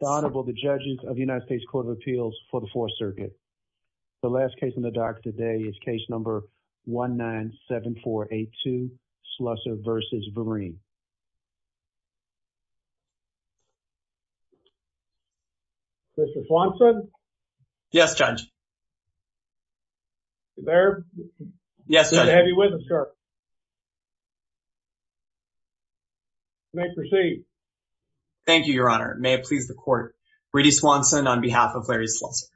Honorable the judges of the United States Court of Appeals for the Fourth Circuit. The last case in the dark today is case number 197482, Slusser v. Vereen. Mr. Swanson? Yes, Judge. Baird? Yes, Judge. Heavy witness, sir. You may proceed. Thank you, Your Honor. May it please the court. Brady Swanson on behalf of Larry Slusser.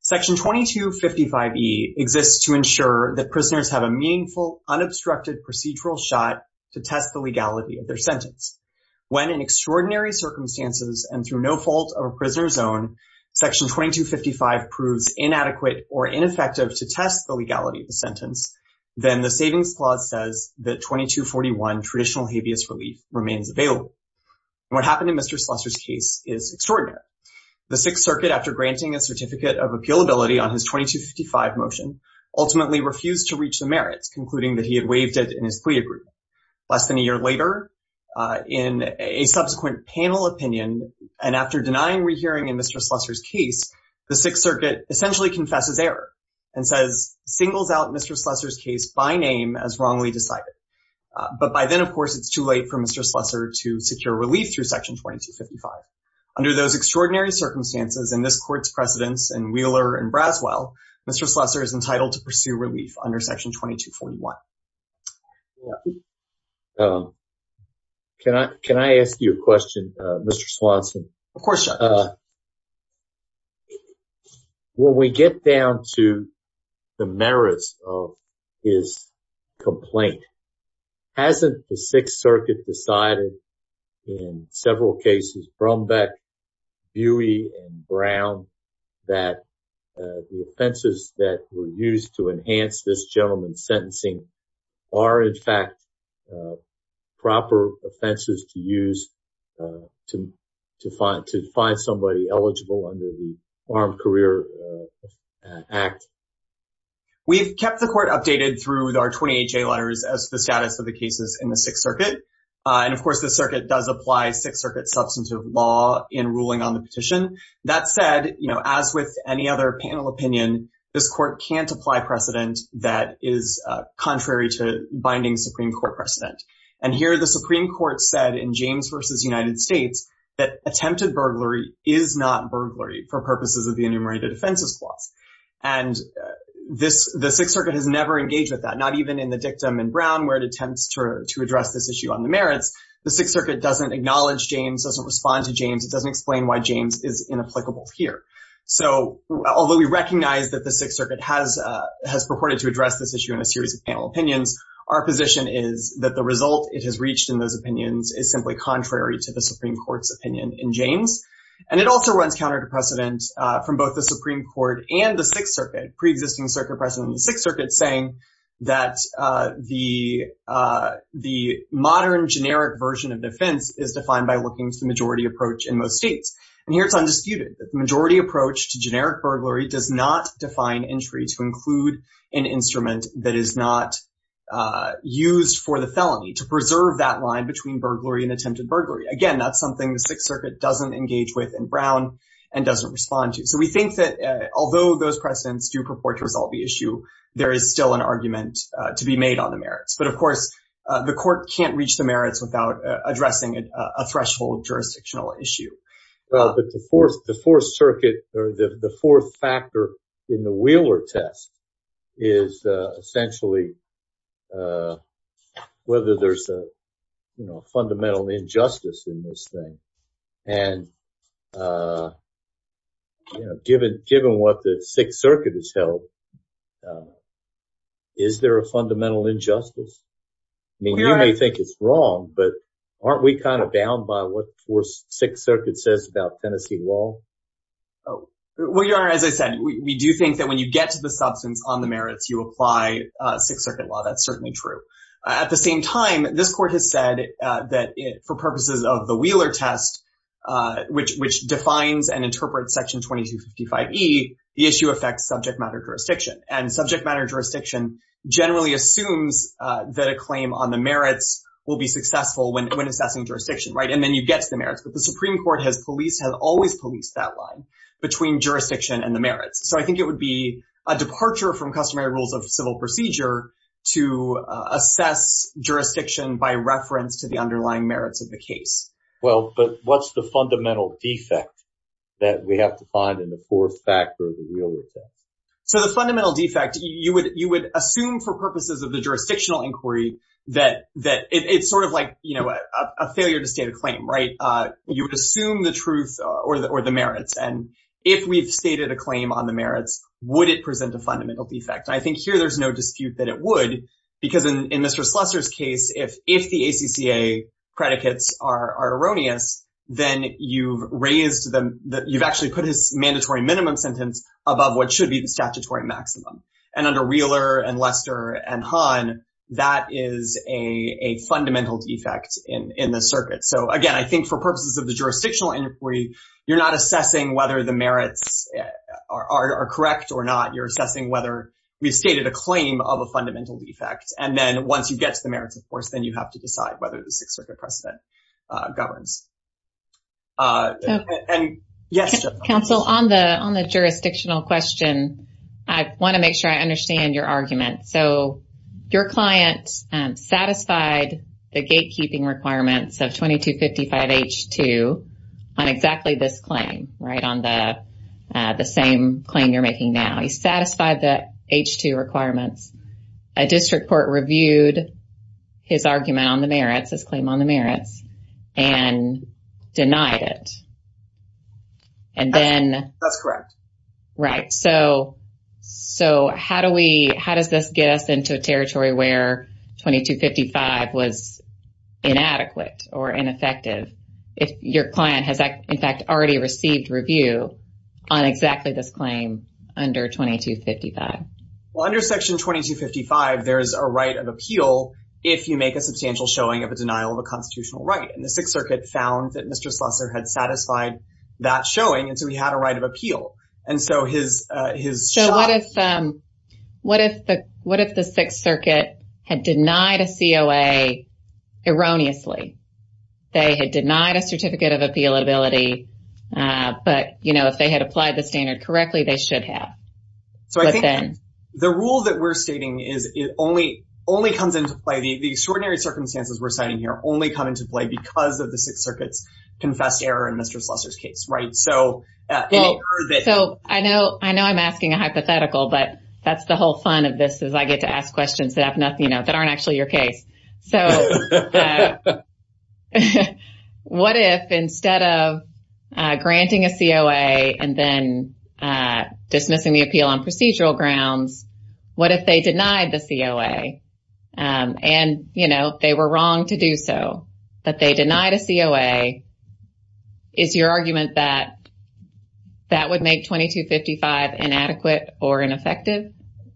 Section 2255e exists to ensure that prisoners have a meaningful, unobstructed procedural shot to test the legality of their sentence. When in extraordinary circumstances and through no fault of a prisoner's own, section 2255 proves inadequate or ineffective to test the legality of the sentence, then the savings clause says that 2241 traditional habeas relief remains available. What happened in Mr. Slusser's case is extraordinary. The Sixth Circuit, after granting a certificate of appealability on his 2255 motion, ultimately refused to reach the merits, concluding that he had waived it in his plea agreement. Less than a year later, in a subsequent panel opinion, and after denying rehearing in Mr. Slusser's case, the Sixth Circuit essentially confesses error and singles out Mr. Slusser's case by name as wrongly decided. But by then, of course, it's too late for Mr. Slusser to secure relief through section 2255. Under those extraordinary circumstances and this court's precedence in Wheeler and Braswell, Mr. Slusser is entitled to pursue relief under section 2241. Can I ask you a question, Mr. Swanson? Of course. When we get down to the merits of his complaint, hasn't the Sixth Circuit decided in several cases, Brombeck, Buey, and Brown, that the offenses that were used to enhance this to find somebody eligible under the Armed Career Act? We've kept the court updated through our 28J letters as to the status of the cases in the Sixth Circuit. And of course, the circuit does apply Sixth Circuit substantive law in ruling on the petition. That said, as with any other panel opinion, this court can't apply precedent that is contrary to binding Supreme Court precedent. And here, the Supreme Court said in James v. United States that attempted burglary is not burglary for purposes of the Enumerated Offenses Clause. And the Sixth Circuit has never engaged with that, not even in the dictum in Brown where it attempts to address this issue on the merits. The Sixth Circuit doesn't acknowledge James, doesn't respond to James. It doesn't explain why James is inapplicable here. So although we recognize that the Sixth Circuit has purported to address this issue in a series of panel opinions, our position is that the result it has reached in those opinions is simply contrary to the Supreme Court's opinion in James. And it also runs counter to precedent from both the Supreme Court and the Sixth Circuit, pre-existing circuit precedent in the Sixth Circuit, saying that the modern generic version of defense is defined by looking to the majority approach in most states. And here it's undisputed. The majority approach to generic burglary does not use for the felony to preserve that line between burglary and attempted burglary. Again, that's something the Sixth Circuit doesn't engage with in Brown and doesn't respond to. So we think that although those precedents do purport to resolve the issue, there is still an argument to be made on the merits. But of course, the court can't reach the merits without addressing a threshold jurisdictional issue. But the Fourth Circuit or the fourth factor in the Wheeler test is essentially whether there's a fundamental injustice in this thing. And given what the Sixth Circuit has held, is there a fundamental injustice? I mean, you may think it's wrong, but aren't we kind of bound by what the Sixth Circuit says about Tennessee law? Oh, well, Your Honor, as I said, we do think that when you get to the substance on the merits, you apply Sixth Circuit law. That's certainly true. At the same time, this court has said that for purposes of the Wheeler test, which defines and interprets section 2255E, the issue affects subject matter jurisdiction. And subject matter jurisdiction generally assumes that a claim on merits will be successful when assessing jurisdiction. And then you get to the merits. But the Supreme Court has always policed that line between jurisdiction and the merits. So I think it would be a departure from customary rules of civil procedure to assess jurisdiction by reference to the underlying merits of the case. Well, but what's the fundamental defect that we have to find in the fourth factor of the Wheeler test? So the fundamental defect, you would assume for purposes of the jurisdictional inquiry that it's sort of like, you know, a failure to state a claim, right? You would assume the truth or the merits. And if we've stated a claim on the merits, would it present a fundamental defect? I think here there's no dispute that it would, because in Mr. Slusser's case, if the ACCA predicates are erroneous, then you've raised them, you've actually put his mandatory minimum sentence above what should be the statutory maximum. And under Wheeler and Lester and Hahn, that is a fundamental defect in the circuit. So again, I think for purposes of the jurisdictional inquiry, you're not assessing whether the merits are correct or not. You're assessing whether we've stated a claim of a fundamental defect. And then once you get to the merits, of course, then you have to decide whether the Sixth Circuit precedent governs. And yes. Counsel, on the jurisdictional question, I want to make sure I understand your argument. So your client satisfied the gatekeeping requirements of 2255H2 on exactly this claim, right? On the same claim you're making now. He satisfied the H2 requirements. A district court reviewed his argument on the merits, his claim on the merits, and denied it. And then... That's correct. Right. So how does this get us into a territory where 2255 was inadequate or ineffective if your client has, in fact, already received review on exactly this claim under 2255? Well, under Section 2255, there is a right of appeal if you make a substantial showing of a denial of a constitutional right. And the Sixth Circuit found that Mr. Slusser had satisfied that showing. And so he had a right of appeal. And so his... So what if the Sixth Circuit had denied a COA erroneously? They had denied a certificate of appealability. But, you know, if they had applied the standard correctly, they should have. So I think the rule that we're stating is it only comes into play. The extraordinary circumstances we're citing here only come into play because of the Sixth Circuit's confessed error in Mr. Slusser's case, right? So... So I know I'm asking a hypothetical, but that's the whole fun of this is I get to ask questions that aren't actually your case. So what if instead of granting a COA and then dismissing the appeal on procedural grounds, what if they denied the COA? And, you know, they were wrong to do so, but they denied a COA. Is your argument that that would make 2255 inadequate or ineffective?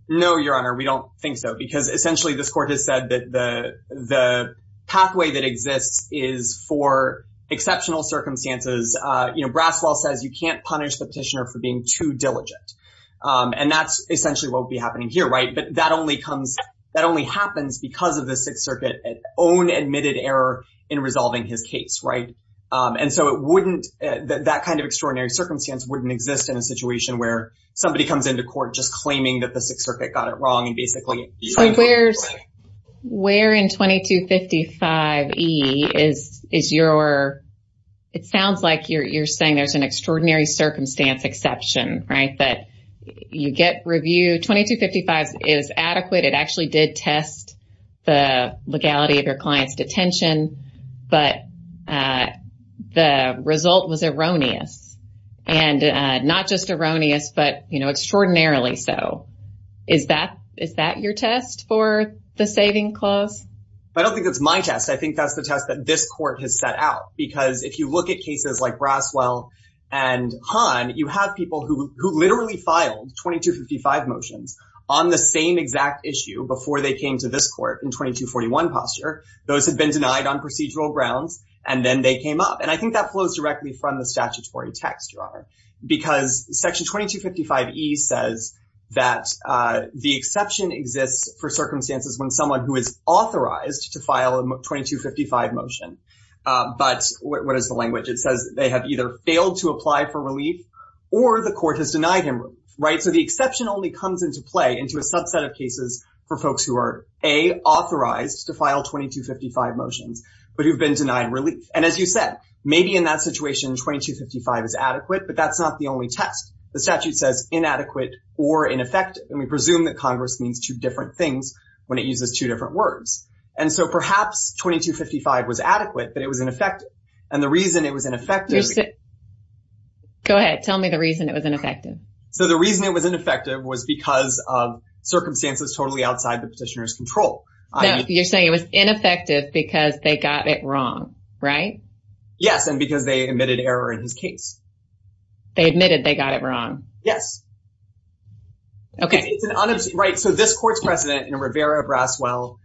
No, Your Honor, we don't think so. Because essentially, this court has said that the pathway that exists is for exceptional circumstances. You know, Braswell says you can't punish the petitioner for being too diligent. And that's essentially what will happen here, right? But that only comes... That only happens because of the Sixth Circuit's own admitted error in resolving his case, right? And so it wouldn't... That kind of extraordinary circumstance wouldn't exist in a situation where somebody comes into court just claiming that the Sixth Circuit got it wrong and basically... Where in 2255E is your... It sounds like you're saying there's an extraordinary circumstance exception, right? That you get review... 2255 is adequate. It actually did test the legality of your client's detention, but the result was erroneous. And not just erroneous, but, you know, extraordinarily so. Is that your test for the saving clause? I don't think that's my test. I think that's the test that this court has set out. Because if you look at cases like Braswell and Hahn, you have people who literally filed 2255 motions on the same exact issue before they came to this court in 2241 posture. Those had been denied on procedural grounds, and then they came up. And I think that flows directly from the statutory text, Your Honor. Because Section 2255E says that the exception exists for circumstances when someone who is authorized to file a 2255 motion... But what is the language? It says they have either failed to apply for relief or the court has denied him relief, right? So the exception only comes into play into a subset of cases for folks who are, A, authorized to file 2255 motions, but who've been denied relief. And as you said, maybe in that situation 2255 is adequate, but that's not the only test. The statute says inadequate or ineffective. And we presume that Congress means two different things when it uses two different words. And so perhaps 2255 was adequate, but it was ineffective. And the reason it was ineffective... Go ahead. Tell me the reason it was ineffective. So the reason it was ineffective was because of circumstances totally outside the petitioner's control. You're saying it was ineffective because they got it wrong, right? Yes. And because they admitted error in his case. They admitted they got it wrong. Yes. Okay. Right. So this court's precedent in Rivera-Braswell...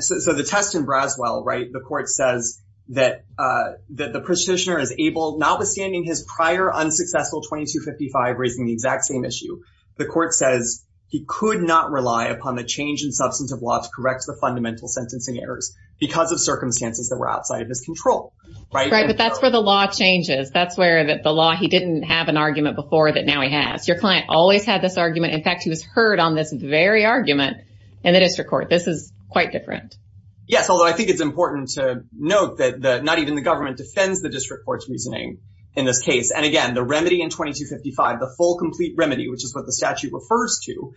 So the test in Braswell, right, the court says that the petitioner is able, notwithstanding his prior unsuccessful 2255 raising the exact same issue, the court says he could not rely upon the change in substantive law to correct the fundamental sentencing errors because of circumstances that were outside of his control, right? Right. But that's where the law changes. That's where the law... He didn't have an argument before that now he has. Your client always had this argument. In fact, he was heard on this very argument in the district court. This is quite different. Yes. Although I think it's important to note that not even the government defends the district court's reasoning in this case. And again, the remedy in 2255, the full complete remedy, which is what the statute refers to,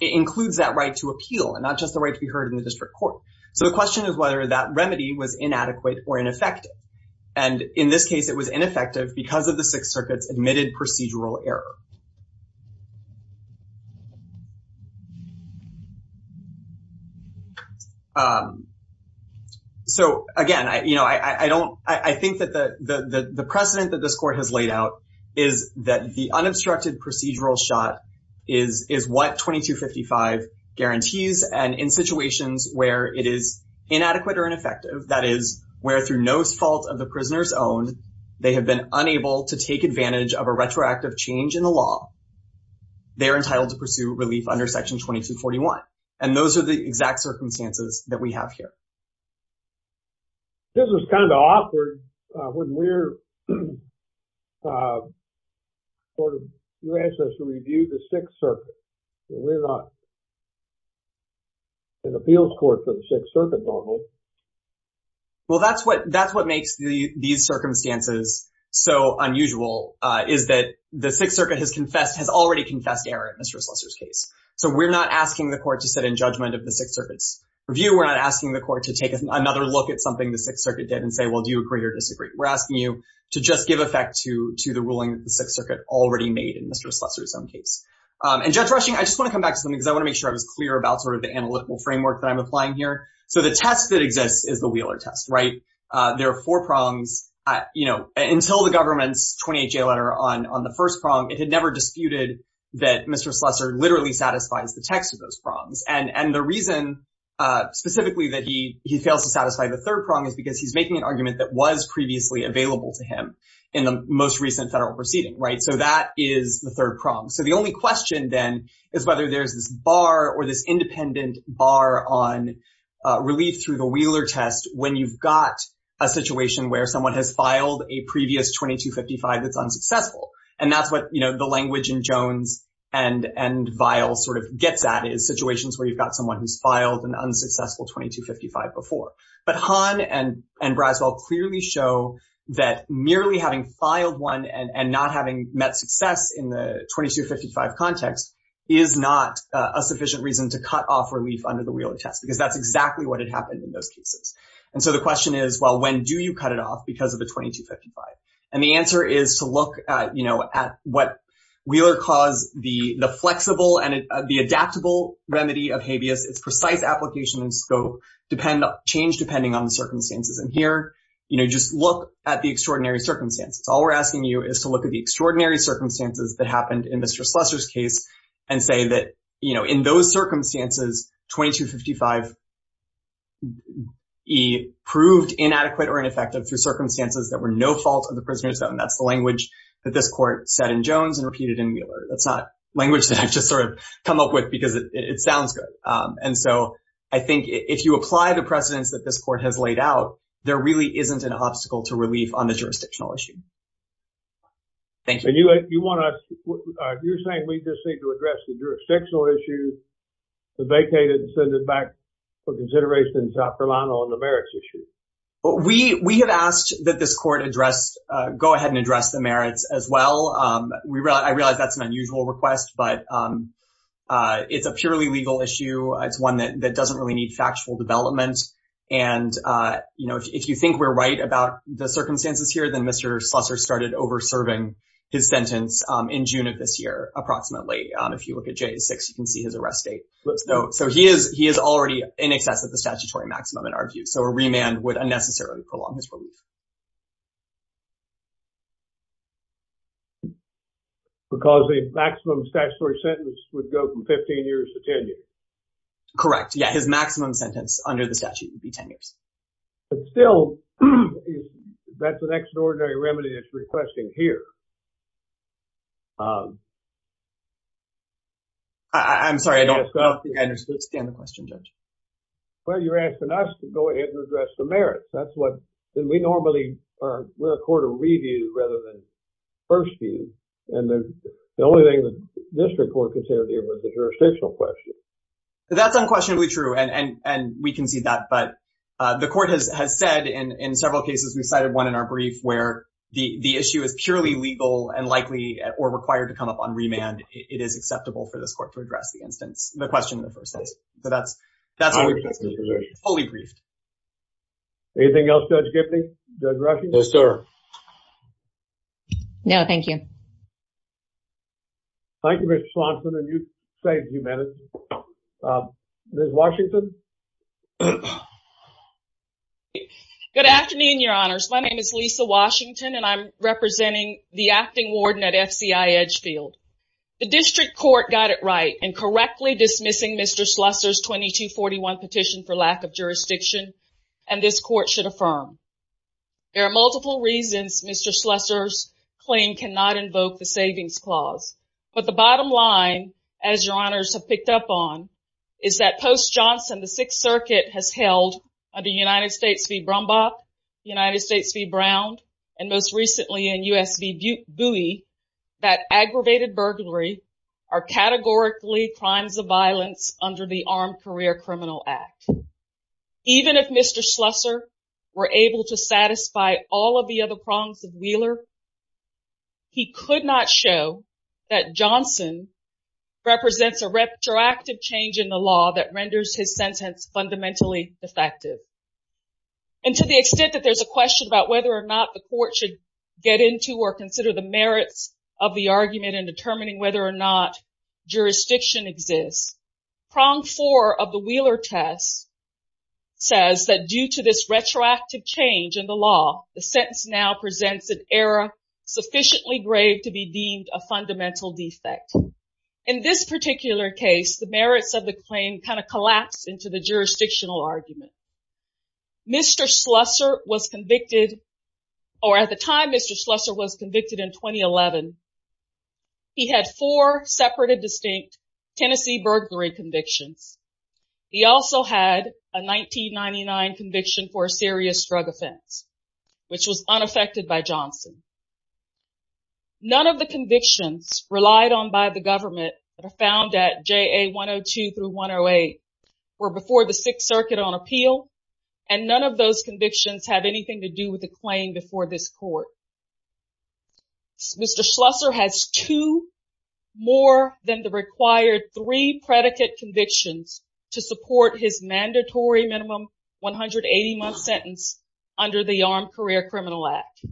includes that right to appeal and not just the right to be heard in the district court. So the question is whether that remedy was inadequate or ineffective. And in this case, it was ineffective because of the Sixth Circuit's admitted procedural error. So again, I don't... I think that the precedent that this court has laid out is that the unobstructed procedural shot is what 2255 guarantees. And in situations where it is they have been unable to take advantage of a retroactive change in the law, they're entitled to pursue relief under Section 2241. And those are the exact circumstances that we have here. This is kind of awkward when we're... sort of... You asked us to review the Sixth Circuit. We're not an appeals court for the Sixth Circuit normally. Well, that's what makes these circumstances so unusual, is that the Sixth Circuit has already confessed error in Mr. Slesser's case. So we're not asking the court to sit in judgment of the Sixth Circuit's review. We're not asking the court to take another look at something the Sixth Circuit did and say, well, do you agree or disagree? We're asking you to just give effect to the ruling that the Sixth Circuit already made in Mr. Slesser's own case. And Judge Rushing, I just want to come back to something because I want to make sure I was clear about sort of the analytical framework that I'm applying here. So the test that exists is the Wheeler test, right? There are four prongs. Until the government's 28-J letter on the first prong, it had never disputed that Mr. Slesser literally satisfies the text of those prongs. And the reason specifically that he fails to satisfy the third prong is because he's making an argument that was previously available to him in the most recent federal proceeding, right? So that is the third prong. So the only question then is whether there's this bar or this independent bar on relief through the Wheeler test when you've got a situation where someone has filed a previous 2255 that's unsuccessful. And that's what, you know, the language in Jones and Vile sort of gets at is situations where you've got someone who's filed an unsuccessful 2255 before. But Hahn and context is not a sufficient reason to cut off relief under the Wheeler test because that's exactly what had happened in those cases. And so the question is, well, when do you cut it off because of a 2255? And the answer is to look at, you know, at what Wheeler calls the flexible and the adaptable remedy of habeas. It's precise application and scope change depending on the circumstances. And here, you know, just look at the extraordinary circumstances. All we're asking you is to look at the extraordinary circumstances that happened in Mr. Slessor's case and say that, you know, in those circumstances, 2255E proved inadequate or ineffective through circumstances that were no fault of the prisoners. And that's the language that this court said in Jones and repeated in Wheeler. That's not language that I've just sort of come up with because it sounds good. And so I think if you apply the precedents that this court has laid out, there really isn't an Thank you. And you want to, you're saying we just need to address the jurisdictional issue, to vacate it and send it back for consideration in South Carolina on the merits issue. We have asked that this court address, go ahead and address the merits as well. I realize that's an unusual request, but it's a purely legal issue. It's one that doesn't really need factual development. And, you know, if you think we're right about the circumstances here, Mr. Slessor started over serving his sentence in June of this year, approximately. If you look at J6, you can see his arrest date. So he is already in excess of the statutory maximum in our view. So a remand would unnecessarily prolong his relief. Because the maximum statutory sentence would go from 15 years to 10 years. Correct. Yeah. His maximum sentence under the statute would be 10 years. But still, that's an extraordinary remedy that's requesting here. I'm sorry, I don't understand the question, Judge. Well, you're asking us to go ahead and address the merits. That's what we normally, we're a court of review rather than first view. And the only thing that this report concerns here was the jurisdictional question. That's unquestionably true. And we concede that. But the court has said in several cases, we cited one in our brief where the issue is purely legal and likely or required to come up on remand. It is acceptable for this court to address the instance, the question in the first instance. So that's fully briefed. Anything else, Judge Giffney, Judge Rushing? No, sir. No, thank you. Thank you, Ms. Swanson, and you saved a few minutes. Ms. Washington? Good afternoon, your honors. My name is Lisa Washington, and I'm representing the acting warden at FCI Edgefield. The district court got it right in correctly dismissing Mr. Slusser's 2241 petition for lack of jurisdiction, and this court should affirm. There are multiple reasons Mr. Slusser's claim cannot invoke the savings clause. But the bottom line, as your honors have picked up on, is that post Johnson, the Sixth Circuit has held under United States v. Brumbach, United States v. Brown, and most recently in U.S. v. Bowie, that aggravated burglary are categorically crimes of violence under the Armed Career Criminal Act. Even if Mr. Slusser were able to satisfy all of the other prongs of Wheeler, he could not show that Johnson represents a retroactive change in the law that renders his sentence fundamentally defective. And to the extent that there's a question about whether or not the court should get into or consider the merits of the argument in determining whether or not jurisdiction exists, prong four of the Wheeler test says that due to this retroactive change in the law, the sentence now presents an error sufficiently grave to be deemed a fundamental defect. In this particular case, the merits of the claim kind of collapsed into the jurisdictional argument. Mr. Slusser was convicted, or at the time Mr. Slusser was convicted in 2011, he had four separate and distinct Tennessee burglary convictions. He also had a 1999 conviction for a serious drug offense, which was unaffected by Johnson. None of the convictions relied on by the government that are found at JA 102 through 108 were before the Sixth Circuit on appeal, and none of those convictions have anything to do with the claim before this case. Mr. Slusser has two more than the required three predicate convictions to support his mandatory minimum 180 month sentence under the Armed Career Criminal Act.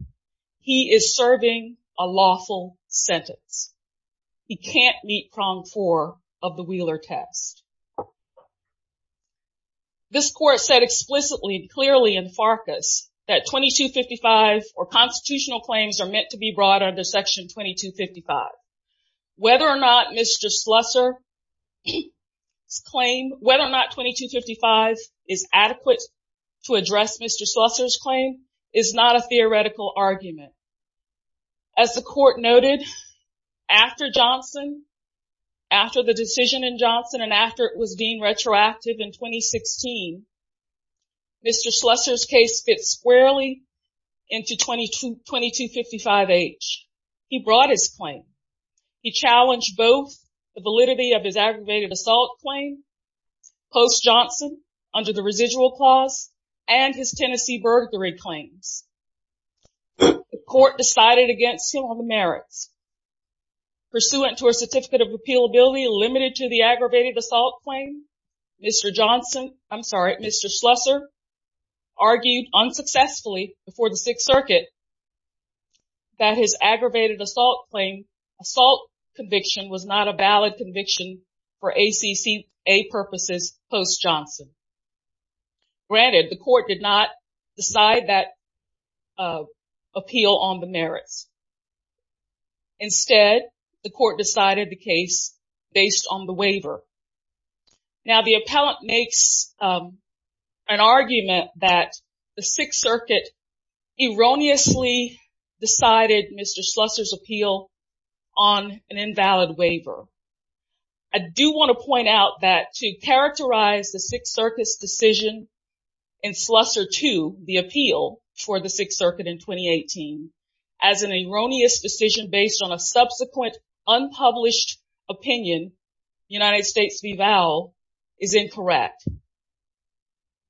He is serving a lawful sentence. He can't meet prong four of the Wheeler test. This court said explicitly and clearly in Farkas that 2255 or constitutional claims are meant to be brought under section 2255. Whether or not Mr. Slusser's claim, whether or not 2255 is adequate to address Mr. Slusser's claim is not a theoretical argument. As the court noted, after Johnson, after the decision in Johnson, and after it was deemed retroactive in 2016, Mr. Slusser's case fits squarely into 2255H. He brought his claim. He challenged both the validity of his aggravated assault claim post Johnson under the residual clause and his Tennessee burglary claims. The court decided against him on the merits. Pursuant to a certificate of merit, Mr. Slusser argued unsuccessfully before the Sixth Circuit that his aggravated assault claim, assault conviction, was not a valid conviction for ACC purposes post Johnson. Granted, the court did not decide that appeal on the merits. Instead, the court decided the case based on the waiver. Now, the appellant makes an argument that the Sixth Circuit erroneously decided Mr. Slusser's appeal on an invalid waiver. I do want to point out that to characterize the Sixth Circuit's decision in Slusser II, the appeal for the Sixth Circuit in 2018, as an erroneous decision based on a subsequent unpublished opinion, United States v. Vowell, is incorrect.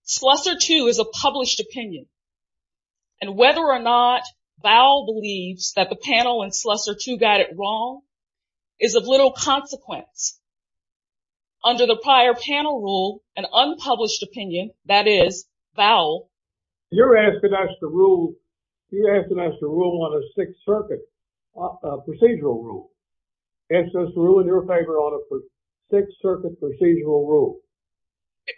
Slusser II is a published opinion, and whether or not Vowell believes that the panel in Slusser II got it wrong is of little consequence. Under the prior panel rule, an unpublished opinion, that is, Vowell... You're asking us to rule on a Sixth Circuit procedural rule. It's just ruling in your favor on a Sixth Circuit procedural rule.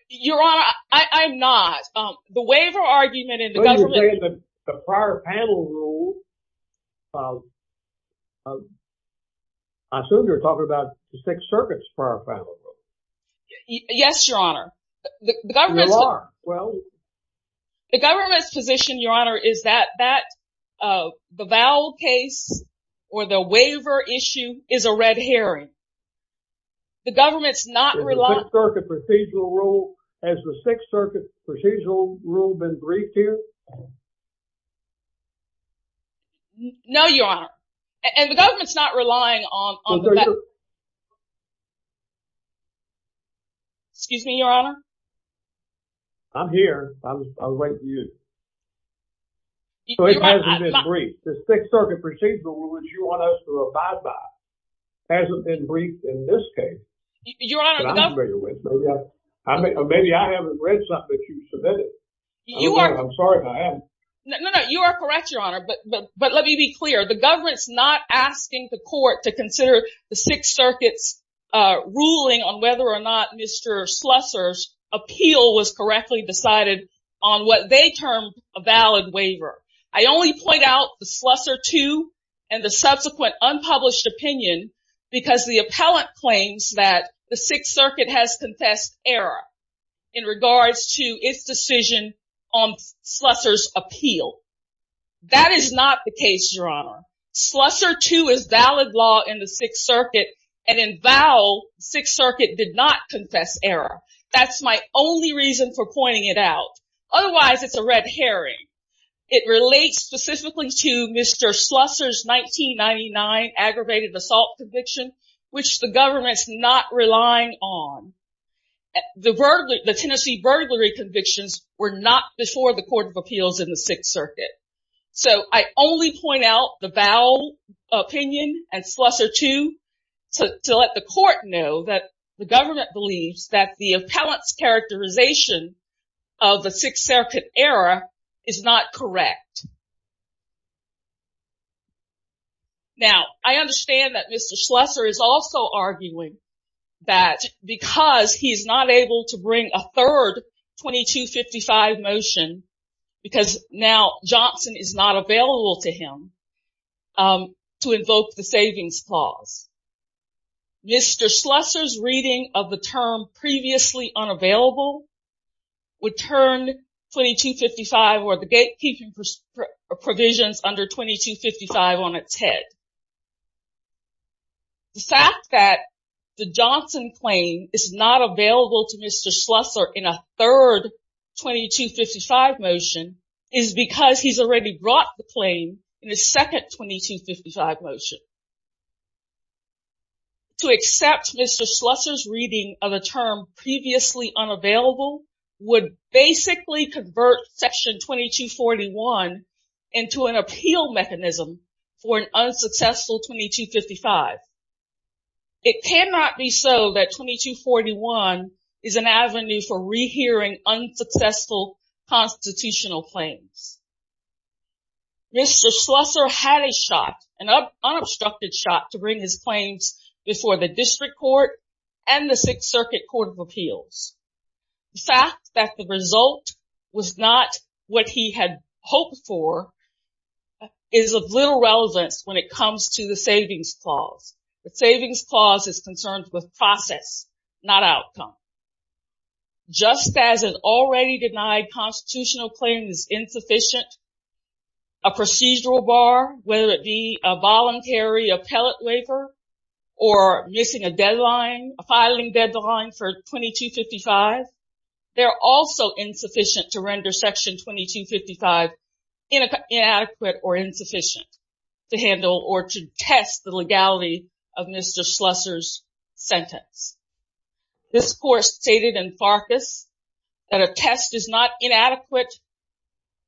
Your Honor, I'm not. The waiver argument in the government... The prior panel rule... I assume you're talking about the Sixth Circuit's prior panel rule. Yes, Your Honor. The government's position, Your Honor, is that the Vowell case or the waiver issue is a red herring. The government's not relying... Has the Sixth Circuit procedural rule been briefed here? No, Your Honor. And the government's not relying on... Excuse me, Your Honor. I'm here. I was waiting for you. So it hasn't been briefed. The Sixth Circuit procedural rule, which you want us to abide by, hasn't been briefed in this case. Your Honor, the government... Maybe I haven't read something that you submitted. I'm sorry if I haven't. No, no. You are correct, Your Honor. But let me be clear. The government's not asking the court to consider the Sixth Circuit's ruling on whether or not Mr. Slusser's appeal was correctly decided on what they termed a valid waiver. I only point out the Slusser II and the error in regards to its decision on Slusser's appeal. That is not the case, Your Honor. Slusser II is valid law in the Sixth Circuit, and in Vowell, the Sixth Circuit did not confess error. That's my only reason for pointing it out. Otherwise, it's a red herring. It relates specifically to Mr. Slusser's 1999 aggravated assault conviction, which the government's not relying on. The Tennessee burglary convictions were not before the Court of Appeals in the Sixth Circuit. So I only point out the Vowell opinion and Slusser II to let the court know that the government believes that the appellant's characterization of the Sixth Circuit error is not correct. Now, I understand that Mr. Slusser is also arguing that because he is not able to bring a third 2255 motion, because now Johnson is not available to him, to invoke the savings clause. Mr. Slusser's reading of the term previously unavailable would turn 2255 or the gatekeeping provisions under 2255 on its head. The fact that the Johnson claim is not available to Mr. Slusser in a third 2255 motion is because he's already brought the claim in his second 2255 motion. To accept Mr. Slusser's reading of a term previously unavailable would basically convert section 2241 into an appeal mechanism for an unsuccessful 2255. It cannot be so that 2241 is an avenue for rehearing unsuccessful constitutional claims. Mr. Slusser had a unobstructed shot to bring his claims before the district court and the Sixth Circuit Court of Appeals. The fact that the result was not what he had hoped for is of little relevance when it comes to the savings clause. The savings clause is concerned with process, not outcome. Just as already denied constitutional claims insufficient, a procedural bar, whether it be a voluntary appellate waiver or missing a filing deadline for 2255, they're also insufficient to render section 2255 inadequate or insufficient to handle or to test the legality of Mr. Slusser's sentence. This court stated in Farkas that a test is not inadequate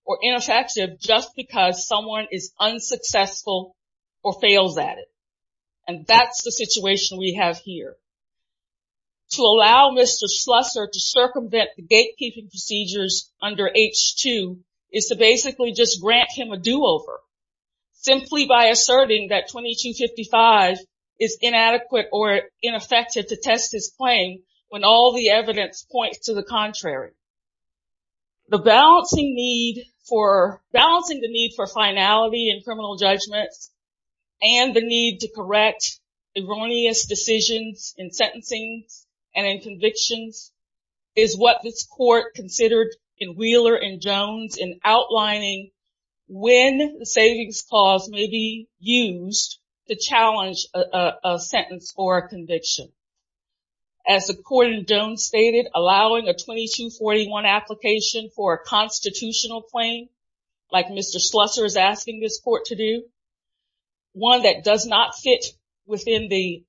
or ineffective just because someone is unsuccessful or fails at it. And that's the situation we have here. To allow Mr. Slusser to circumvent the gatekeeping procedures under H2 is to basically just grant him a do-over simply by asserting that 2255 is inadequate or ineffective to test his claim when all the evidence points to the contrary. The balancing need for finality in criminal judgments and the need to correct erroneous decisions in sentencing and in convictions is what this court considered in Wheeler and Jones in outlining when the savings clause may be used to challenge a sentence for a conviction. As the court in Jones stated, allowing a 2241 application for a constitutional claim like Mr. Slusser is asking this court to do, one that does not fit within the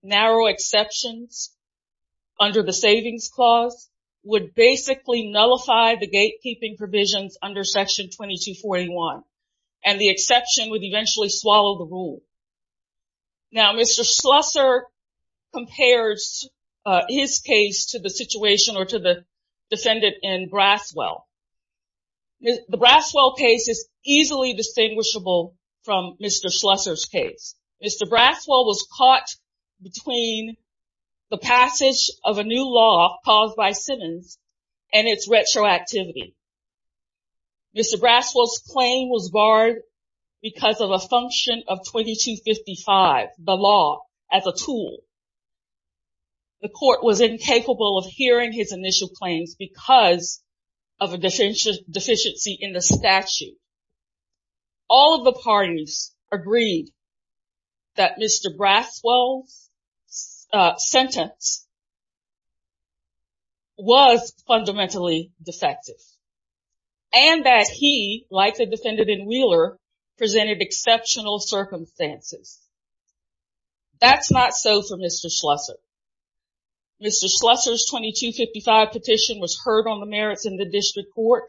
gatekeeping provisions under section 2241 and the exception would eventually swallow the rule. Now Mr. Slusser compares his case to the situation or to the defendant in Braswell. The Braswell case is easily distinguishable from Mr. Slusser's case. Mr. Braswell was caught between the passage of a new law caused by Simmons and its retroactivity. Mr. Braswell's claim was barred because of a function of 2255, the law, as a tool. The court was incapable of hearing his initial claims because of a deficiency in the statute. All of the parties agreed that Mr. Braswell's sentence was fundamentally defective and that he, like the defendant in Wheeler, presented exceptional circumstances. That's not so for Mr. Slusser. Mr. Slusser's 2255 petition was heard on the merits in the district court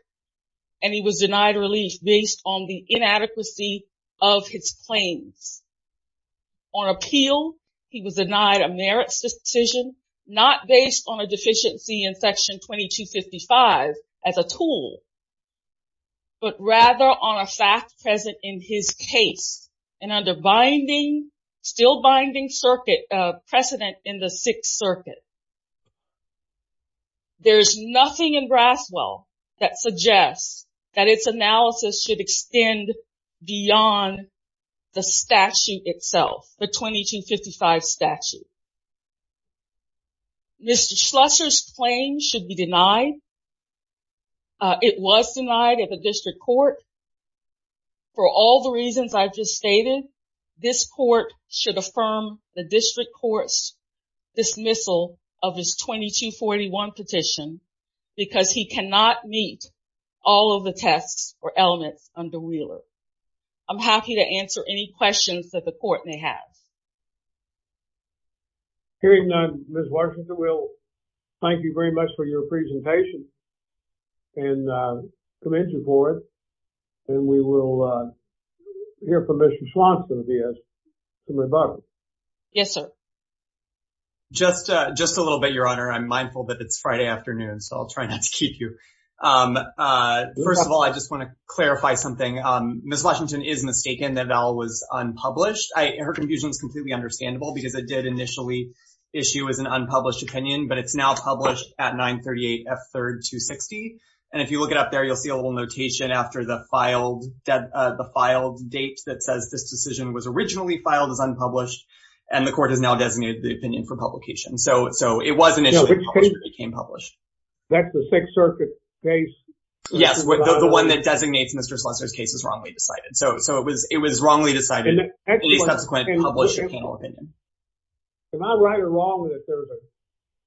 and he was denied relief based on the inadequacy of his claims. On appeal, he was denied a merits decision not based on a deficiency in section 2255 as a tool, but rather on a fact present in his case and under binding, still binding circuit, precedent in the Sixth Circuit. There's nothing in Braswell that suggests that its analysis should extend beyond the statute itself, the 2255 statute. Mr. Slusser's claim should be denied. It was denied at the district court for all the reasons I've just stated. This court should affirm the district court's dismissal of his 2241 petition because he cannot meet all of the tests or elements under Wheeler. I'm happy to answer any questions that the court may have. Hearing none, Ms. Washington, we'll thank you very much for your presentation and commission for it and we will hear from Mr. Slusser if he has some rebuttals. Yes, sir. Just a little bit, Your Honor. I'm mindful that it's Friday afternoon, so I'll try not to keep you. First of all, I just want to clarify something. Ms. Washington is mistaken that it all was unpublished. Her confusion is completely understandable because it did issue as an unpublished opinion, but it's now published at 938 F3rd 260. If you look it up there, you'll see a little notation after the filed date that says this decision was originally filed as unpublished and the court has now designated the opinion for publication. It was initially published, but it became published. That's the Sixth Circuit case? Yes, the one that designates Mr. Slusser's case is wrongly decided. It was wrongly decided in a unpublished opinion. Am I right or wrong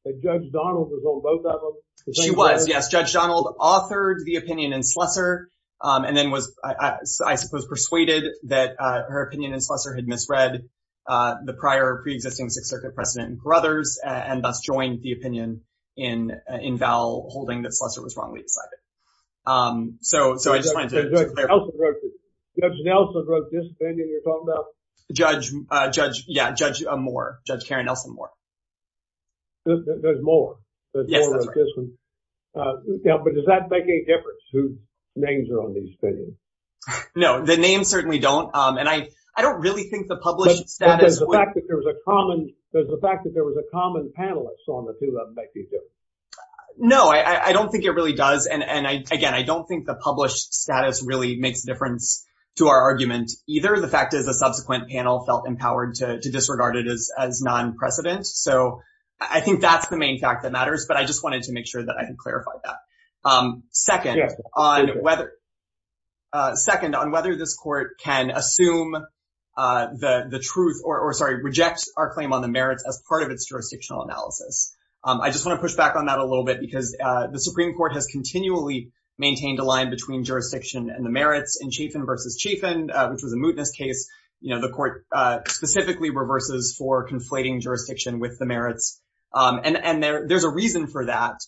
that Judge Donald was on both of them? She was, yes. Judge Donald authored the opinion in Slusser and then was, I suppose, persuaded that her opinion in Slusser had misread the prior pre-existing Sixth Circuit precedent in Brothers and thus joined the opinion in Val holding that Slusser was wrongly decided. So I just wanted to clarify. Judge Nelson wrote this opinion you're talking about? Judge Moore. Judge Karen Nelson Moore. There's more. There's more like this one. But does that make any difference whose names are on these opinions? No, the names certainly don't. And I don't really think the published status... Does the fact that there was a common panelist on the two of them make any difference? No, I don't think it really does. And again, I don't think the published status really makes a difference to our argument either. The fact is the subsequent panel felt empowered to disregard it as non-precedent. So I think that's the main fact that matters. But I just wanted to make sure that I had clarified that. Second, on whether this court can assume the truth or, sorry, reject our claim on the merits as part of its jurisdictional analysis. I just want to push back on that a little bit because the Supreme Court has continually maintained a line between jurisdiction and the merits in Chafin v. Chafin, which was a mootness case. The court specifically reverses for conflating jurisdiction with the merits. And there's a reason for that.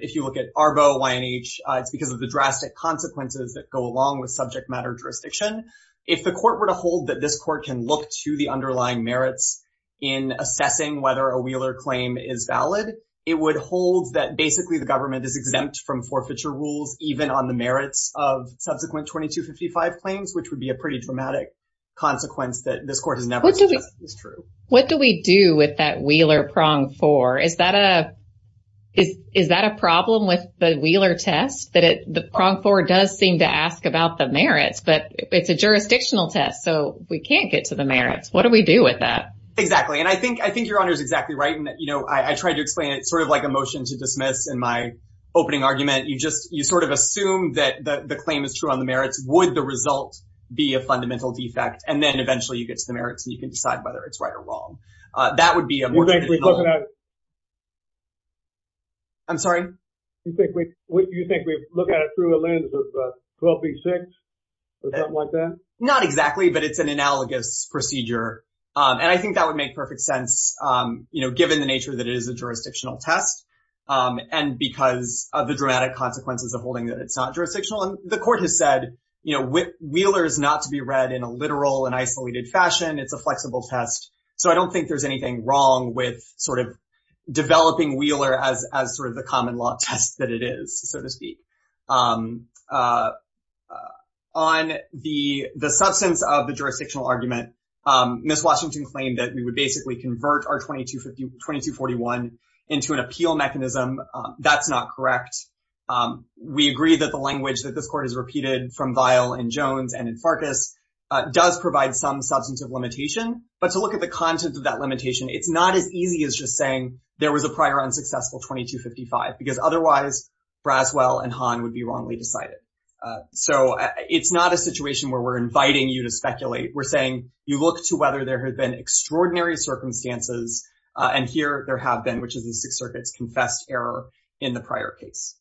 If you look at ARBO, YNH, it's because of the drastic consequences that go along with subject matter jurisdiction. If the court were to hold that this court can look to the underlying merits in assessing whether a Wheeler claim is valid, it would hold that basically the government is exempt from forfeiture rules, even on the merits of subsequent 2255 claims, which would be a pretty dramatic consequence that this court has never suggested is true. What do we do with that Wheeler prong four? Is that a problem with the Wheeler test? The prong four does seem to ask about the merits, but it's a jurisdictional test, so we can't get to the merits. What do we do with that? Exactly. And I think your Honor is exactly right in that, you know, I tried to explain it sort of like a motion to dismiss in my opening argument. You just, you sort of assume that the claim is true on the merits. Would the result be a fundamental defect? And then eventually you get to the merits and you can decide whether it's right or wrong. That would be a more... I'm sorry? You think we look at it through a lens of 12B6 or something like that? Not exactly, but it's an analogous procedure. And I think that would make perfect sense, you know, given the nature that it is a jurisdictional test and because of the dramatic consequences of holding that it's not jurisdictional. And the court has said, you know, Wheeler is not to be read in a literal and isolated fashion. It's a flexible test. So I don't think there's anything wrong with sort of developing Wheeler as sort of the common law test that it is, so to speak. On the substance of the jurisdictional argument, Ms. Washington claimed that we would basically convert our 2241 into an appeal mechanism. That's not correct. We agree that the language that this court has repeated from Vial and Jones and in Farkas does provide some substantive limitation. But to look at the content of that limitation, it's not as easy as just saying there was a prior unsuccessful 2255 because otherwise Braswell and Hahn would be wrongly decided. So it's not a situation where we're inviting you to speculate. We're saying you look to whether there have been extraordinary circumstances, and here there have been, which is the Sixth Circuit's confessed error in the prior case.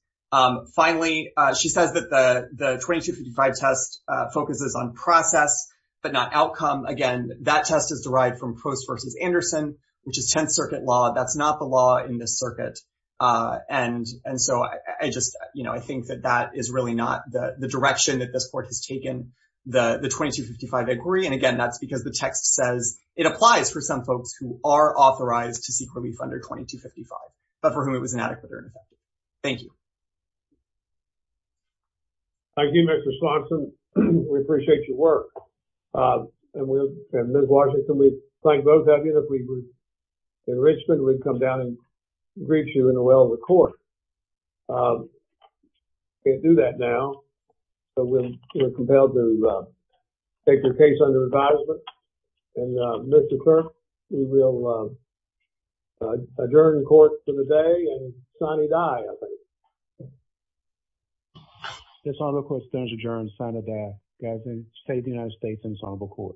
Finally, she says that the 2255 test focuses on process but not outcome. Again, that test is derived from Post v. Anderson, which is Tenth Circuit law. That's not the law in this circuit. And so I just, you know, I think that that is really not the direction that this court has taken. And again, that's because the text says it applies for some folks who are authorized to seek relief under 2255, but for whom it was inadequate or ineffective. Thank you. Thank you, Mr. Swanson. We appreciate your work. And Ms. Washington, we thank both of you. If we were in Richmond, we'd come down and greet you in the well of the court. Can't do that now, but we're compelled to take the case under advisement. And Mr. Clerk, we will adjourn the court for the day, and sine die, I think. This Honorable Court stands adjourned, sine die, as in the State of the United States Ensemble Court.